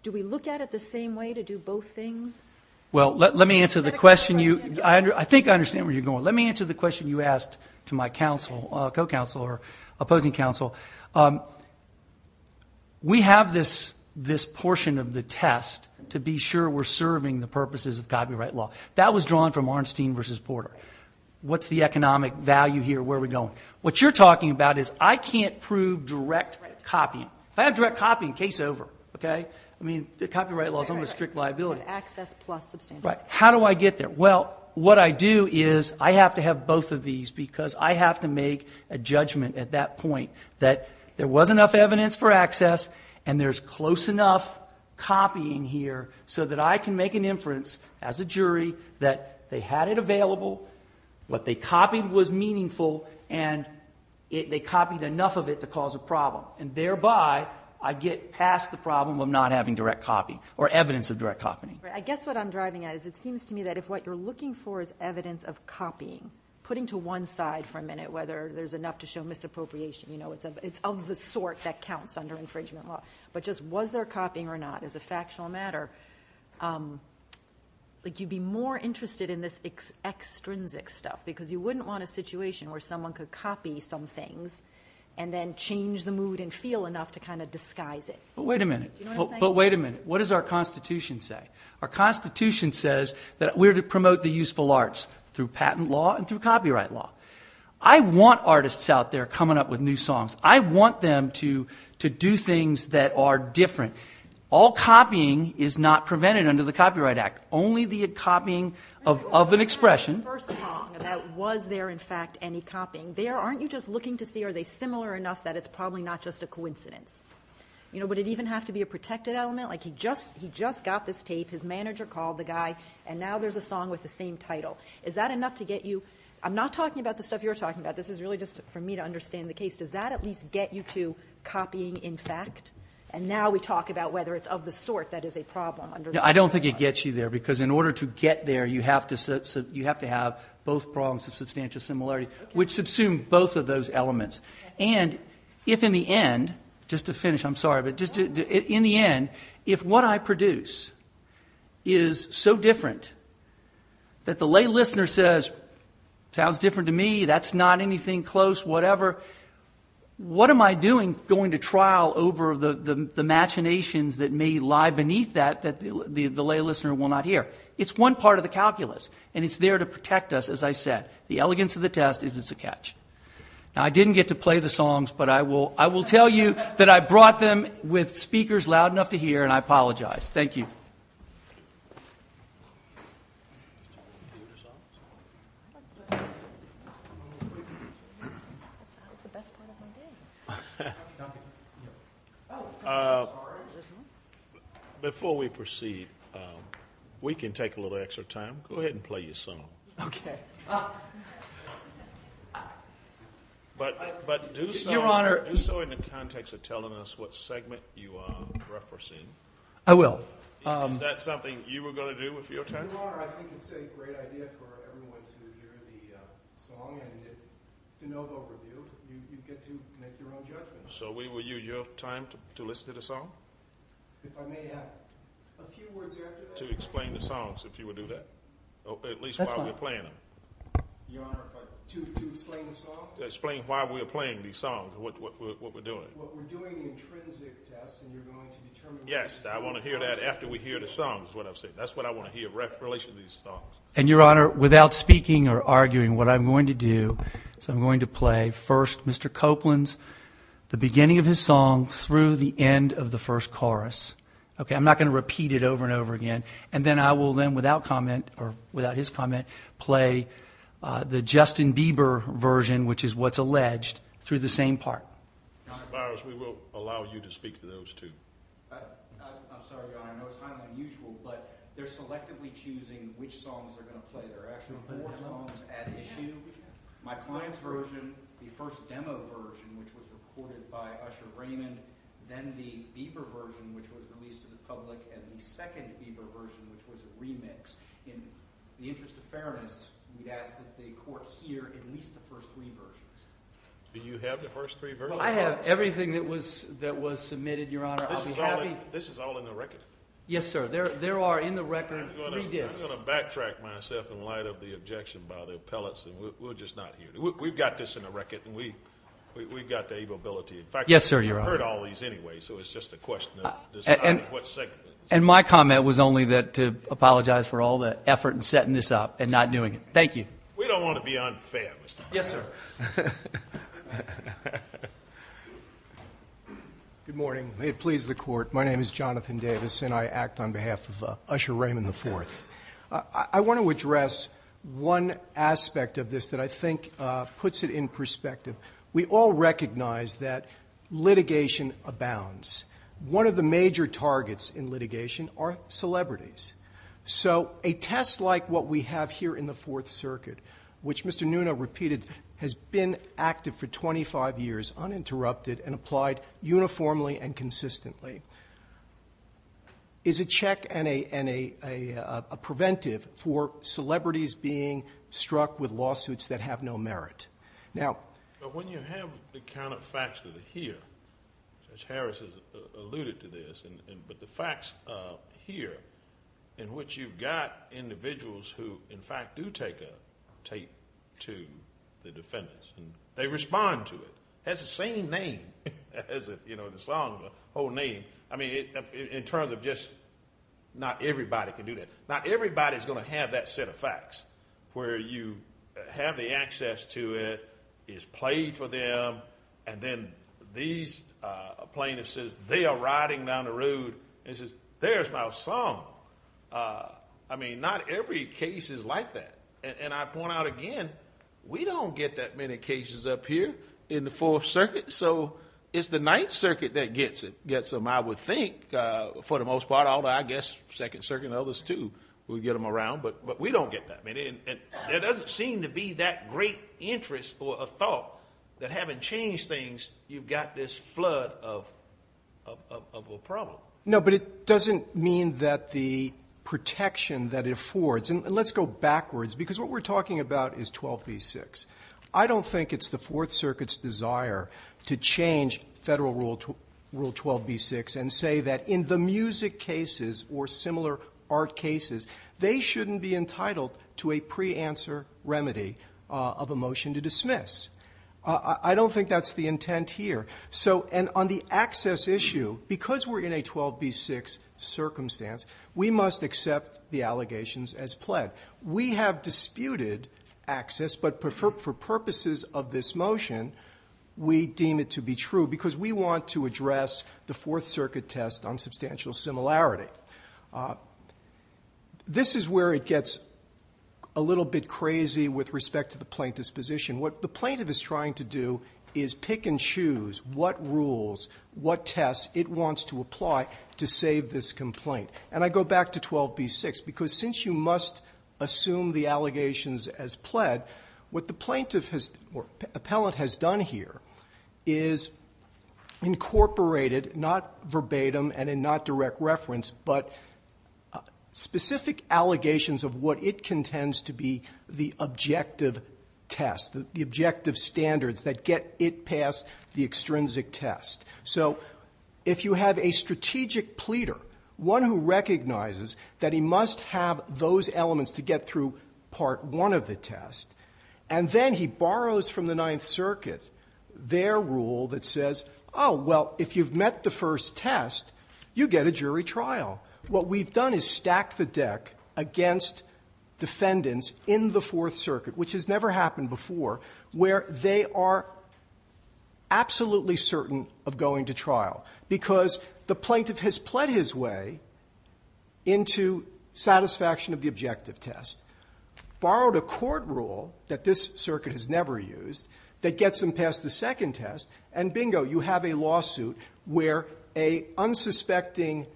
Do we look at it the same way to do both things? Well, let me answer the question. I think I understand where you're going. Let me answer the question you asked to my counsel, co-counsel or opposing counsel. We have this portion of the test to be sure we're serving the purposes of copyright law. That was drawn from Arnstein v. Porter. What's the economic value here? Where are we going? What you're talking about is I can't prove direct copying. If I have direct copying, case over, okay? I mean, copyright law is almost a strict liability. Access plus substantial. Right. How do I get there? Well, what I do is I have to have both of these because I have to make a judgment at that point that there was enough evidence for access and there's close enough copying here so that I can make an inference as a jury that they had it available, what they copied was meaningful, and they copied enough of it to cause a problem. And thereby, I get past the problem of not having direct copy or evidence of direct copying. I guess what I'm driving at is it seems to me that if what you're looking for is evidence of copying, putting to one side for a minute whether there's enough to show misappropriation, you know, it's of the sort that counts under infringement law, but just was there copying or not as a factional matter, like you'd be more interested in this extrinsic stuff because you wouldn't want a situation where someone could copy some things and then change the mood and feel enough to kind of disguise it. But wait a minute. Do you know what I'm saying? But wait a minute. What does our Constitution say? Our Constitution says that we're to promote the useful arts through patent law and through copyright law. I want artists out there coming up with new songs. I want them to do things that are different. All copying is not prevented under the Copyright Act. Only the copying of an expression. First, was there, in fact, any copying there? Aren't you just looking to see are they similar enough that it's probably not just a coincidence? You know, would it even have to be a protected element? Like he just got this tape, his manager called the guy, and now there's a song with the same title. Is that enough to get you? I'm not talking about the stuff you're talking about. This is really just for me to understand the case. Does that at least get you to copying in fact? And now we talk about whether it's of the sort that is a problem under the Copyright Act. I don't think it gets you there because in order to get there, you have to have both prongs of substantial similarity, which subsume both of those elements. And if in the end, just to finish, I'm sorry, but in the end, if what I produce is so different that the lay listener says, sounds different to me, that's not anything close, whatever, what am I doing going to trial over the machinations that may lie beneath that that the lay listener will not hear? It's one part of the calculus, and it's there to protect us, as I said. The elegance of the test is it's a catch. Now, I didn't get to play the songs, but I will tell you that I brought them with speakers loud enough to hear, and I apologize. Thank you. Before we proceed, we can take a little extra time. Go ahead and play your song. Okay. But do so in the context of telling us what segment you are referencing. I will. Is that something you were going to do with your test? Your Honor, I think it's a great idea for everyone to hear the song, and to know the overview, you get to make your own judgment. So will you use your time to listen to the song? If I may have a few words after that. To explain the songs, if you would do that. At least while we're playing them. Your Honor, to explain the song? To explain why we're playing these songs, what we're doing. We're doing the intrinsic test, and you're going to determine what we're doing. Yes, I want to hear that after we hear the songs, is what I'm saying. That's what I want to hear in relation to these songs. And, Your Honor, without speaking or arguing, what I'm going to do is I'm going to play, first, Mr. Copeland's beginning of his song through the end of the first chorus. Okay, I'm not going to repeat it over and over again. And then I will then, without comment, or without his comment, play the Justin Bieber version, which is what's alleged, through the same part. Mr. Myers, we will allow you to speak to those, too. I'm sorry, Your Honor, I know it's highly unusual, but they're selectively choosing which songs they're going to play. There are actually four songs at issue. My client's version, the first demo version, which was recorded by Usher Raymond, then the Bieber version, which was released to the public, and the second Bieber version, which was a remix. In the interest of fairness, we'd ask that the Court hear at least the first three versions. Do you have the first three versions? Well, I have everything that was submitted, Your Honor. This is all in the record? Yes, sir. There are in the record three discs. I'm going to backtrack myself in light of the objection by the appellates, and we'll just not hear it. We've got this in the record, and we've got the ability. In fact, we've heard all these anyway, so it's just a question of deciding what segment. And my comment was only to apologize for all the effort in setting this up and not doing it. Thank you. We don't want to be unfair, Mr. Myers. Yes, sir. Good morning. May it please the Court, my name is Jonathan Davis, and I act on behalf of Usher Raymond IV. I want to address one aspect of this that I think puts it in perspective. We all recognize that litigation abounds. One of the major targets in litigation are celebrities. So a test like what we have here in the Fourth Circuit, which Mr. Nuna repeated, has been active for 25 years, uninterrupted, and applied uniformly and consistently, is a check and a preventive for celebrities being struck with lawsuits that have no merit. Now, when you have the counterfactual here, as Harris alluded to this, but the facts here in which you've got individuals who, in fact, do take a tape to the defendants, they respond to it. It has the same name as the song, the whole name. I mean, in terms of just not everybody can do that. Not everybody is going to have that set of facts where you have the access to it, it's played for them, and then a plaintiff says, they are riding down the road, and says, there's my song. I mean, not every case is like that. And I point out again, we don't get that many cases up here in the Fourth Circuit, so it's the Ninth Circuit that gets them, I would think, for the most part, I guess Second Circuit and others, too, will get them around, but we don't get that many. And there doesn't seem to be that great interest or a thought that having changed things, you've got this flood of a problem. No, but it doesn't mean that the protection that it affords, and let's go backwards, because what we're talking about is 12b-6. I don't think it's the Fourth Circuit's desire to change Federal Rule 12b-6 and say that in the music cases or similar art cases, they shouldn't be entitled to a pre-answer remedy of a motion to dismiss. I don't think that's the intent here. And on the access issue, because we're in a 12b-6 circumstance, we must accept the allegations as pled. We have disputed access, but for purposes of this motion, we deem it to be true because we want to address the Fourth Circuit test on substantial similarity. This is where it gets a little bit crazy with respect to the plaintiff's position. What the plaintiff is trying to do is pick and choose what rules, what tests it wants to apply to save this complaint. And I go back to 12b-6, because since you must assume the allegations as pled, what the plaintiff or appellant has done here is incorporated, not verbatim and in not direct reference, but specific allegations of what it contends to be the objective test, the objective standards that get it past the extrinsic test. So if you have a strategic pleader, one who recognizes that he must have those elements to get through part one of the test, and then he borrows from the Ninth Circuit their rule that says, oh, well, if you've met the first test, you get a jury trial. What we've done is stacked the deck against defendants in the Fourth Circuit, which has never happened before, where they are absolutely certain of going to trial, because the plaintiff has pled his way into satisfaction of the objective test, borrowed a court rule that this circuit has never used that gets them past the second test, and bingo, you have a lawsuit where an unsuspecting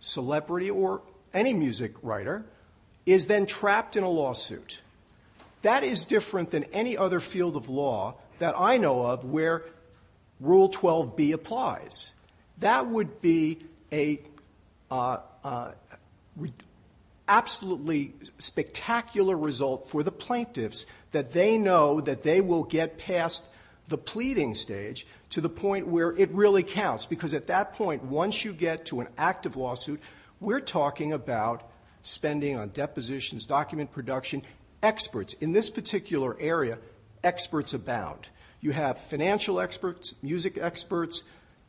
celebrity or any music writer is then trapped in a lawsuit. That is different than any other field of law that I know of where Rule 12b applies. That would be an absolutely spectacular result for the plaintiffs, that they know that they will get past the pleading stage to the point where it really counts, because at that point, once you get to an active lawsuit, we're talking about spending on depositions, document production, experts. In this particular area, experts abound. You have financial experts, music experts,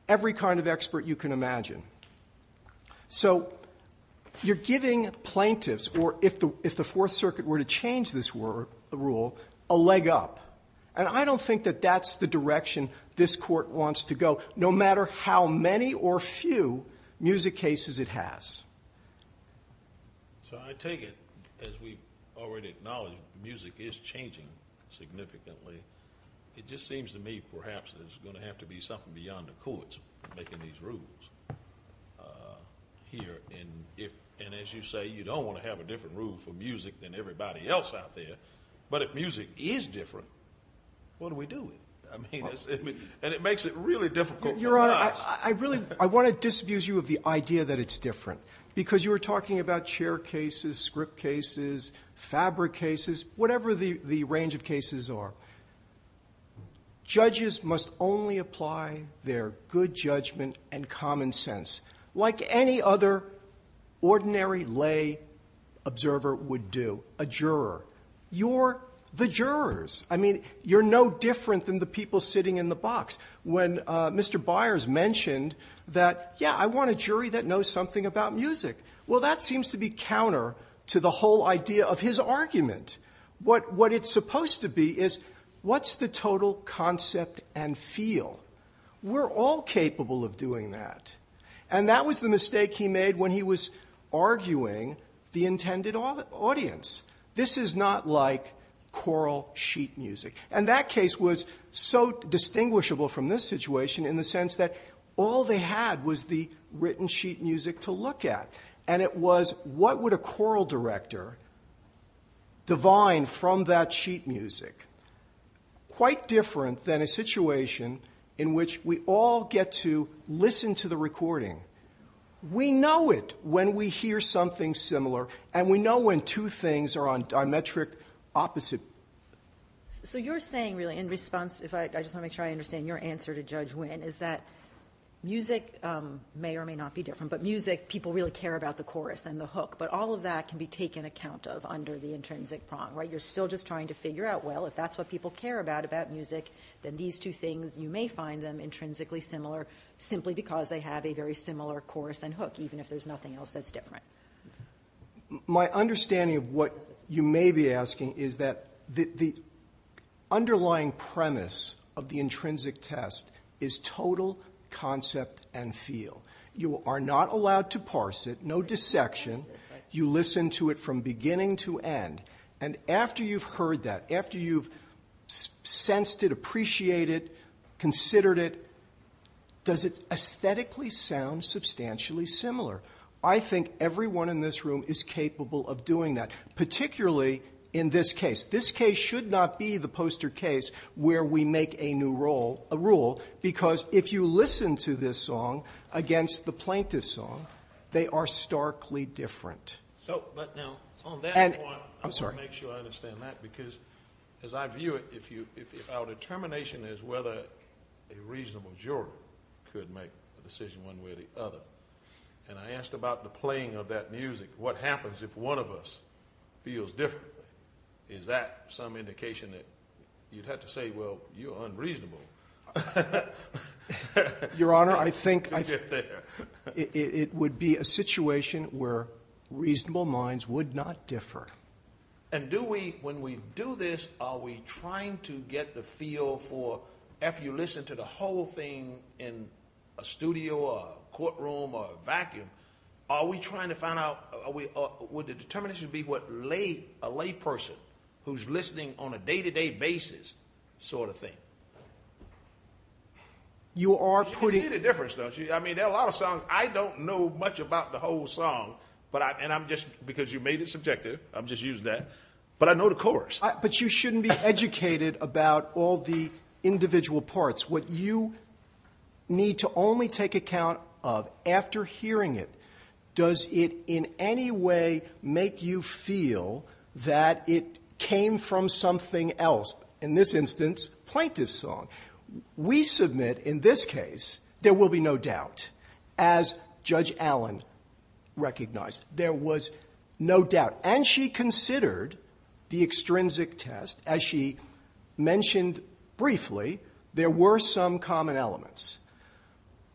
every kind of expert you can imagine. So you're giving plaintiffs, or if the Fourth Circuit were to change this rule, a leg up, and I don't think that that's the direction this court wants to go, no matter how many or few music cases it has. So I take it, as we've already acknowledged, music is changing significantly. It just seems to me perhaps there's going to have to be something beyond the courts making these rules here, and as you say, you don't want to have a different rule for music than everybody else out there, but if music is different, what do we do? And it makes it really difficult for us. Your Honor, I want to disabuse you of the idea that it's different, because you were talking about chair cases, script cases, fabric cases, whatever the range of cases are. Judges must only apply their good judgment and common sense, like any other ordinary lay observer would do, a juror. You're the jurors. I mean, you're no different than the people sitting in the box. When Mr. Byers mentioned that, yeah, I want a jury that knows something about music, well, that seems to be counter to the whole idea of his argument. What it's supposed to be is, what's the total concept and feel? We're all capable of doing that, and that was the mistake he made when he was arguing the intended audience. This is not like choral sheet music, and that case was so distinguishable from this situation in the sense that all they had was the written sheet music to look at, and it was, what would a choral director divine from that sheet music? Quite different than a situation in which we all get to listen to the recording. We know it when we hear something similar, and we know when two things are on diametric opposite. So you're saying, really, in response, I just want to make sure I understand your answer to Judge Wynn, is that music may or may not be different, but music, people really care about the chorus and the hook, but all of that can be taken account of under the intrinsic prong, right? If that's what people care about about music, then these two things, you may find them intrinsically similar simply because they have a very similar chorus and hook, even if there's nothing else that's different. My understanding of what you may be asking is that the underlying premise of the intrinsic test is total concept and feel. You are not allowed to parse it, no dissection. You listen to it from beginning to end, and after you've heard that, after you've sensed it, appreciated it, considered it, does it aesthetically sound substantially similar? I think everyone in this room is capable of doing that, particularly in this case. This case should not be the poster case where we make a new rule, because if you listen to this song against the plaintiff's song, they are starkly different. On that point, I want to make sure I understand that, because as I view it, if our determination is whether a reasonable juror could make a decision one way or the other, and I asked about the playing of that music, what happens if one of us feels differently? Is that some indication that you'd have to say, well, you're unreasonable to get there? It would be a situation where reasonable minds would not differ. And do we, when we do this, are we trying to get the feel for, after you listen to the whole thing in a studio or a courtroom or a vacuum, are we trying to find out, would the determination be what a lay person who's listening on a day-to-day basis sort of thing? You are putting... You can see the difference, though. I mean, there are a lot of songs I don't know much about the whole song, and I'm just, because you made it subjective, I'm just using that, but I know the chorus. But you shouldn't be educated about all the individual parts. What you need to only take account of after hearing it, does it in any way make you feel that it came from something else? In this instance, plaintiff's song. We submit, in this case, there will be no doubt, as Judge Allen recognized. There was no doubt. And she considered the extrinsic test. As she mentioned briefly, there were some common elements.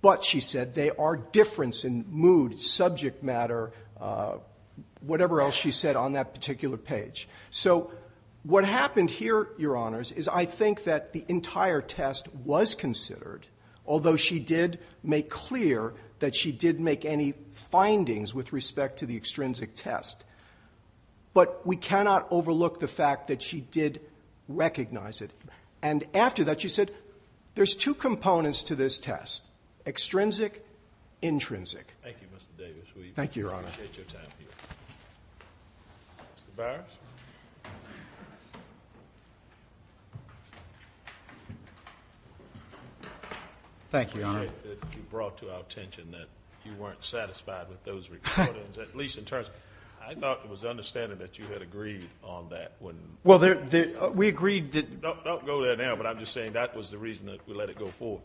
But, she said, there are differences in mood, subject matter, whatever else she said on that particular page. So what happened here, Your Honors, is I think that the entire test was considered, although she did make clear that she did make any findings with respect to the extrinsic test. But we cannot overlook the fact that she did recognize it. And after that, she said, there's two components to this test, extrinsic, intrinsic. Thank you, Mr. Davis. We appreciate your time here. Mr. Bowers. Thank you, Your Honor. I appreciate that you brought to our attention that you weren't satisfied with those recordings, at least in terms of ‑‑I thought it was understandable that you had agreed on that. Well, we agreed that ‑‑ Don't go there now, but I'm just saying that was the reason that we let it go forward.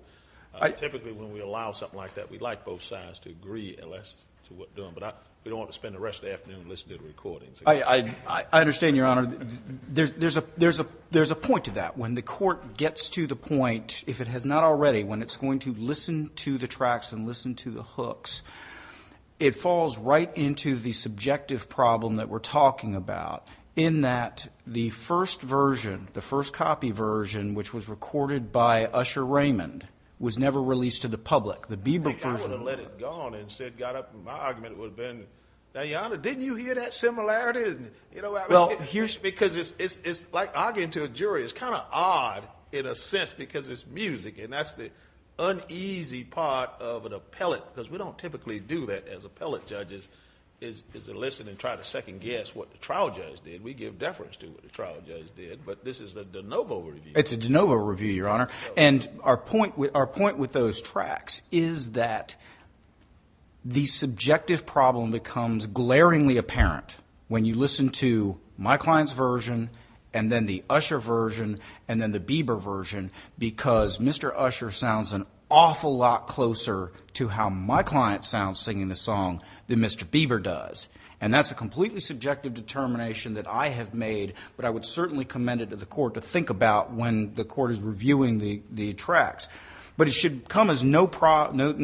Typically, when we allow something like that, we'd like both sides to agree, and that's what we're doing. But we don't want to spend the rest of the afternoon listening to the recordings. I understand, Your Honor. There's a point to that. When the court gets to the point, if it has not already, when it's going to listen to the tracks and listen to the hooks, it falls right into the subjective problem that we're talking about in that the first version, the first copy version, which was recorded by Usher Raymond, was never released to the public. I think I would have let it go and instead got up and my argument would have been, now, Your Honor, didn't you hear that similarity? Because it's like arguing to a jury. It's kind of odd in a sense because it's music, and that's the uneasy part of an appellate, because we don't typically do that as appellate judges, is to listen and try to second guess what the trial judge did. We give deference to what the trial judge did, but this is the de novo review. It's a de novo review, Your Honor. And our point with those tracks is that the subjective problem becomes glaringly apparent when you listen to my client's version and then the Usher version and then the Bieber version because Mr. Usher sounds an awful lot closer to how my client sounds singing the song than Mr. Bieber does. And that's a completely subjective determination that I have made, but I would certainly commend it to the court to think about when the court is reviewing the tracks. But it should come as no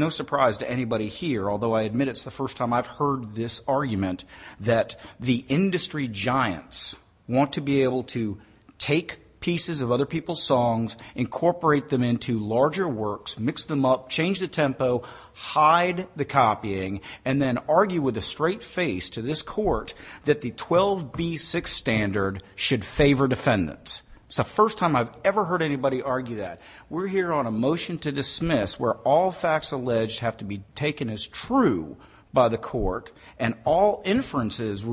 surprise to anybody here, although I admit it's the first time I've heard this argument, that the industry giants want to be able to take pieces of other people's songs, incorporate them into larger works, mix them up, change the tempo, hide the copying, and then argue with a straight face to this court that the 12B6 standard should favor defendants. It's the first time I've ever heard anybody argue that. We're here on a motion to dismiss where all facts alleged have to be taken as true by the court and all inferences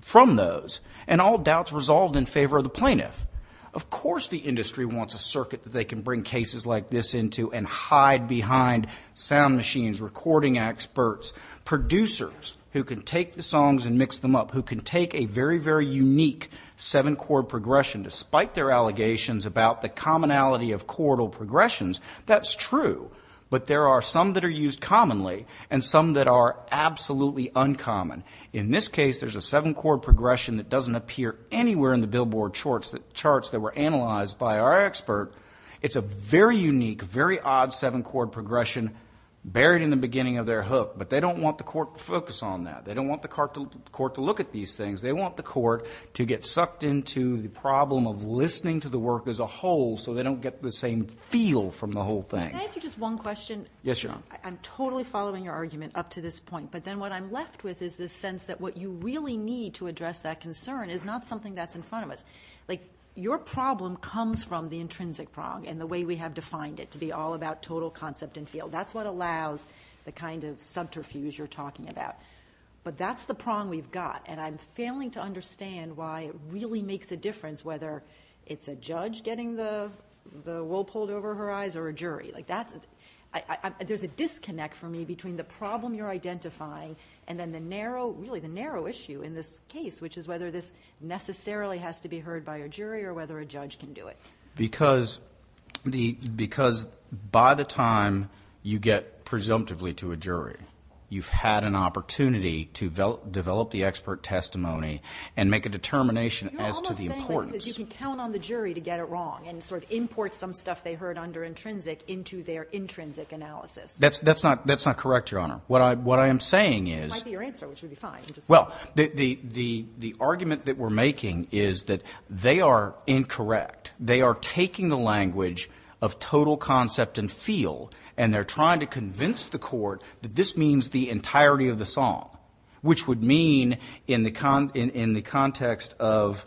from those and all doubts resolved in favor of the plaintiff. Of course the industry wants a circuit that they can bring cases like this into and hide behind sound machines, recording experts, producers who can take the songs and mix them up, who can take a very, very unique seven-chord progression, despite their allegations about the commonality of chordal progressions. That's true. But there are some that are used commonly and some that are absolutely uncommon. In this case, there's a seven-chord progression that doesn't appear anywhere in the Billboard charts that were analyzed by our expert. It's a very unique, very odd seven-chord progression buried in the beginning of their hook, but they don't want the court to focus on that. They don't want the court to look at these things. They want the court to get sucked into the problem of listening to the work as a whole so they don't get the same feel from the whole thing. Can I ask you just one question? Yes, Your Honor. I'm totally following your argument up to this point, but then what I'm left with is this sense that what you really need to address that concern is not something that's in front of us. Your problem comes from the intrinsic prong and the way we have defined it to be all about total concept and feel. That's what allows the kind of subterfuge you're talking about. But that's the prong we've got, and I'm failing to understand why it really makes a difference whether it's a judge getting the wool pulled over her eyes or a jury. There's a disconnect for me between the problem you're identifying and then really the narrow issue in this case, which is whether this necessarily has to be heard by a jury or whether a judge can do it. Because by the time you get presumptively to a jury, you've had an opportunity to develop the expert testimony and make a determination as to the importance. You're almost saying that you can count on the jury to get it wrong and sort of import some stuff they heard under intrinsic into their intrinsic analysis. That's not correct, Your Honor. What I am saying is— It might be your answer, which would be fine. Well, the argument that we're making is that they are incorrect. They are taking the language of total concept and feel, and they're trying to convince the court that this means the entirety of the song, which would mean in the context of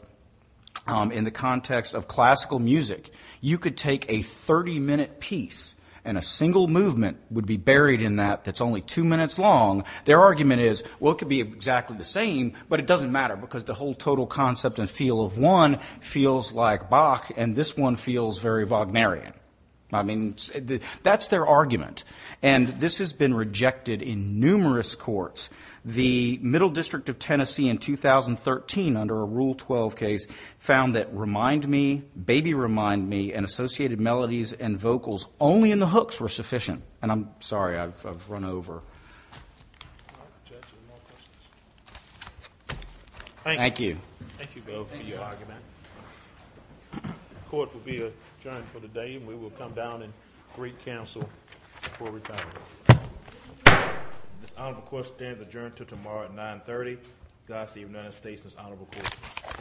classical music, you could take a 30-minute piece and a single movement would be buried in that that's only two minutes long. Their argument is, well, it could be exactly the same, but it doesn't matter because the whole total concept and feel of one feels like Bach and this one feels very Wagnerian. I mean, that's their argument. And this has been rejected in numerous courts. The Middle District of Tennessee in 2013 under a Rule 12 case found that remind me, baby remind me, and associated melodies and vocals only in the hooks were sufficient. And I'm sorry, I've run over. Thank you. Thank you both for your argument. The court will be adjourned for the day, and we will come down and greet counsel before we continue. This honorable court stands adjourned until tomorrow at 9.30. God save the United States and this honorable court.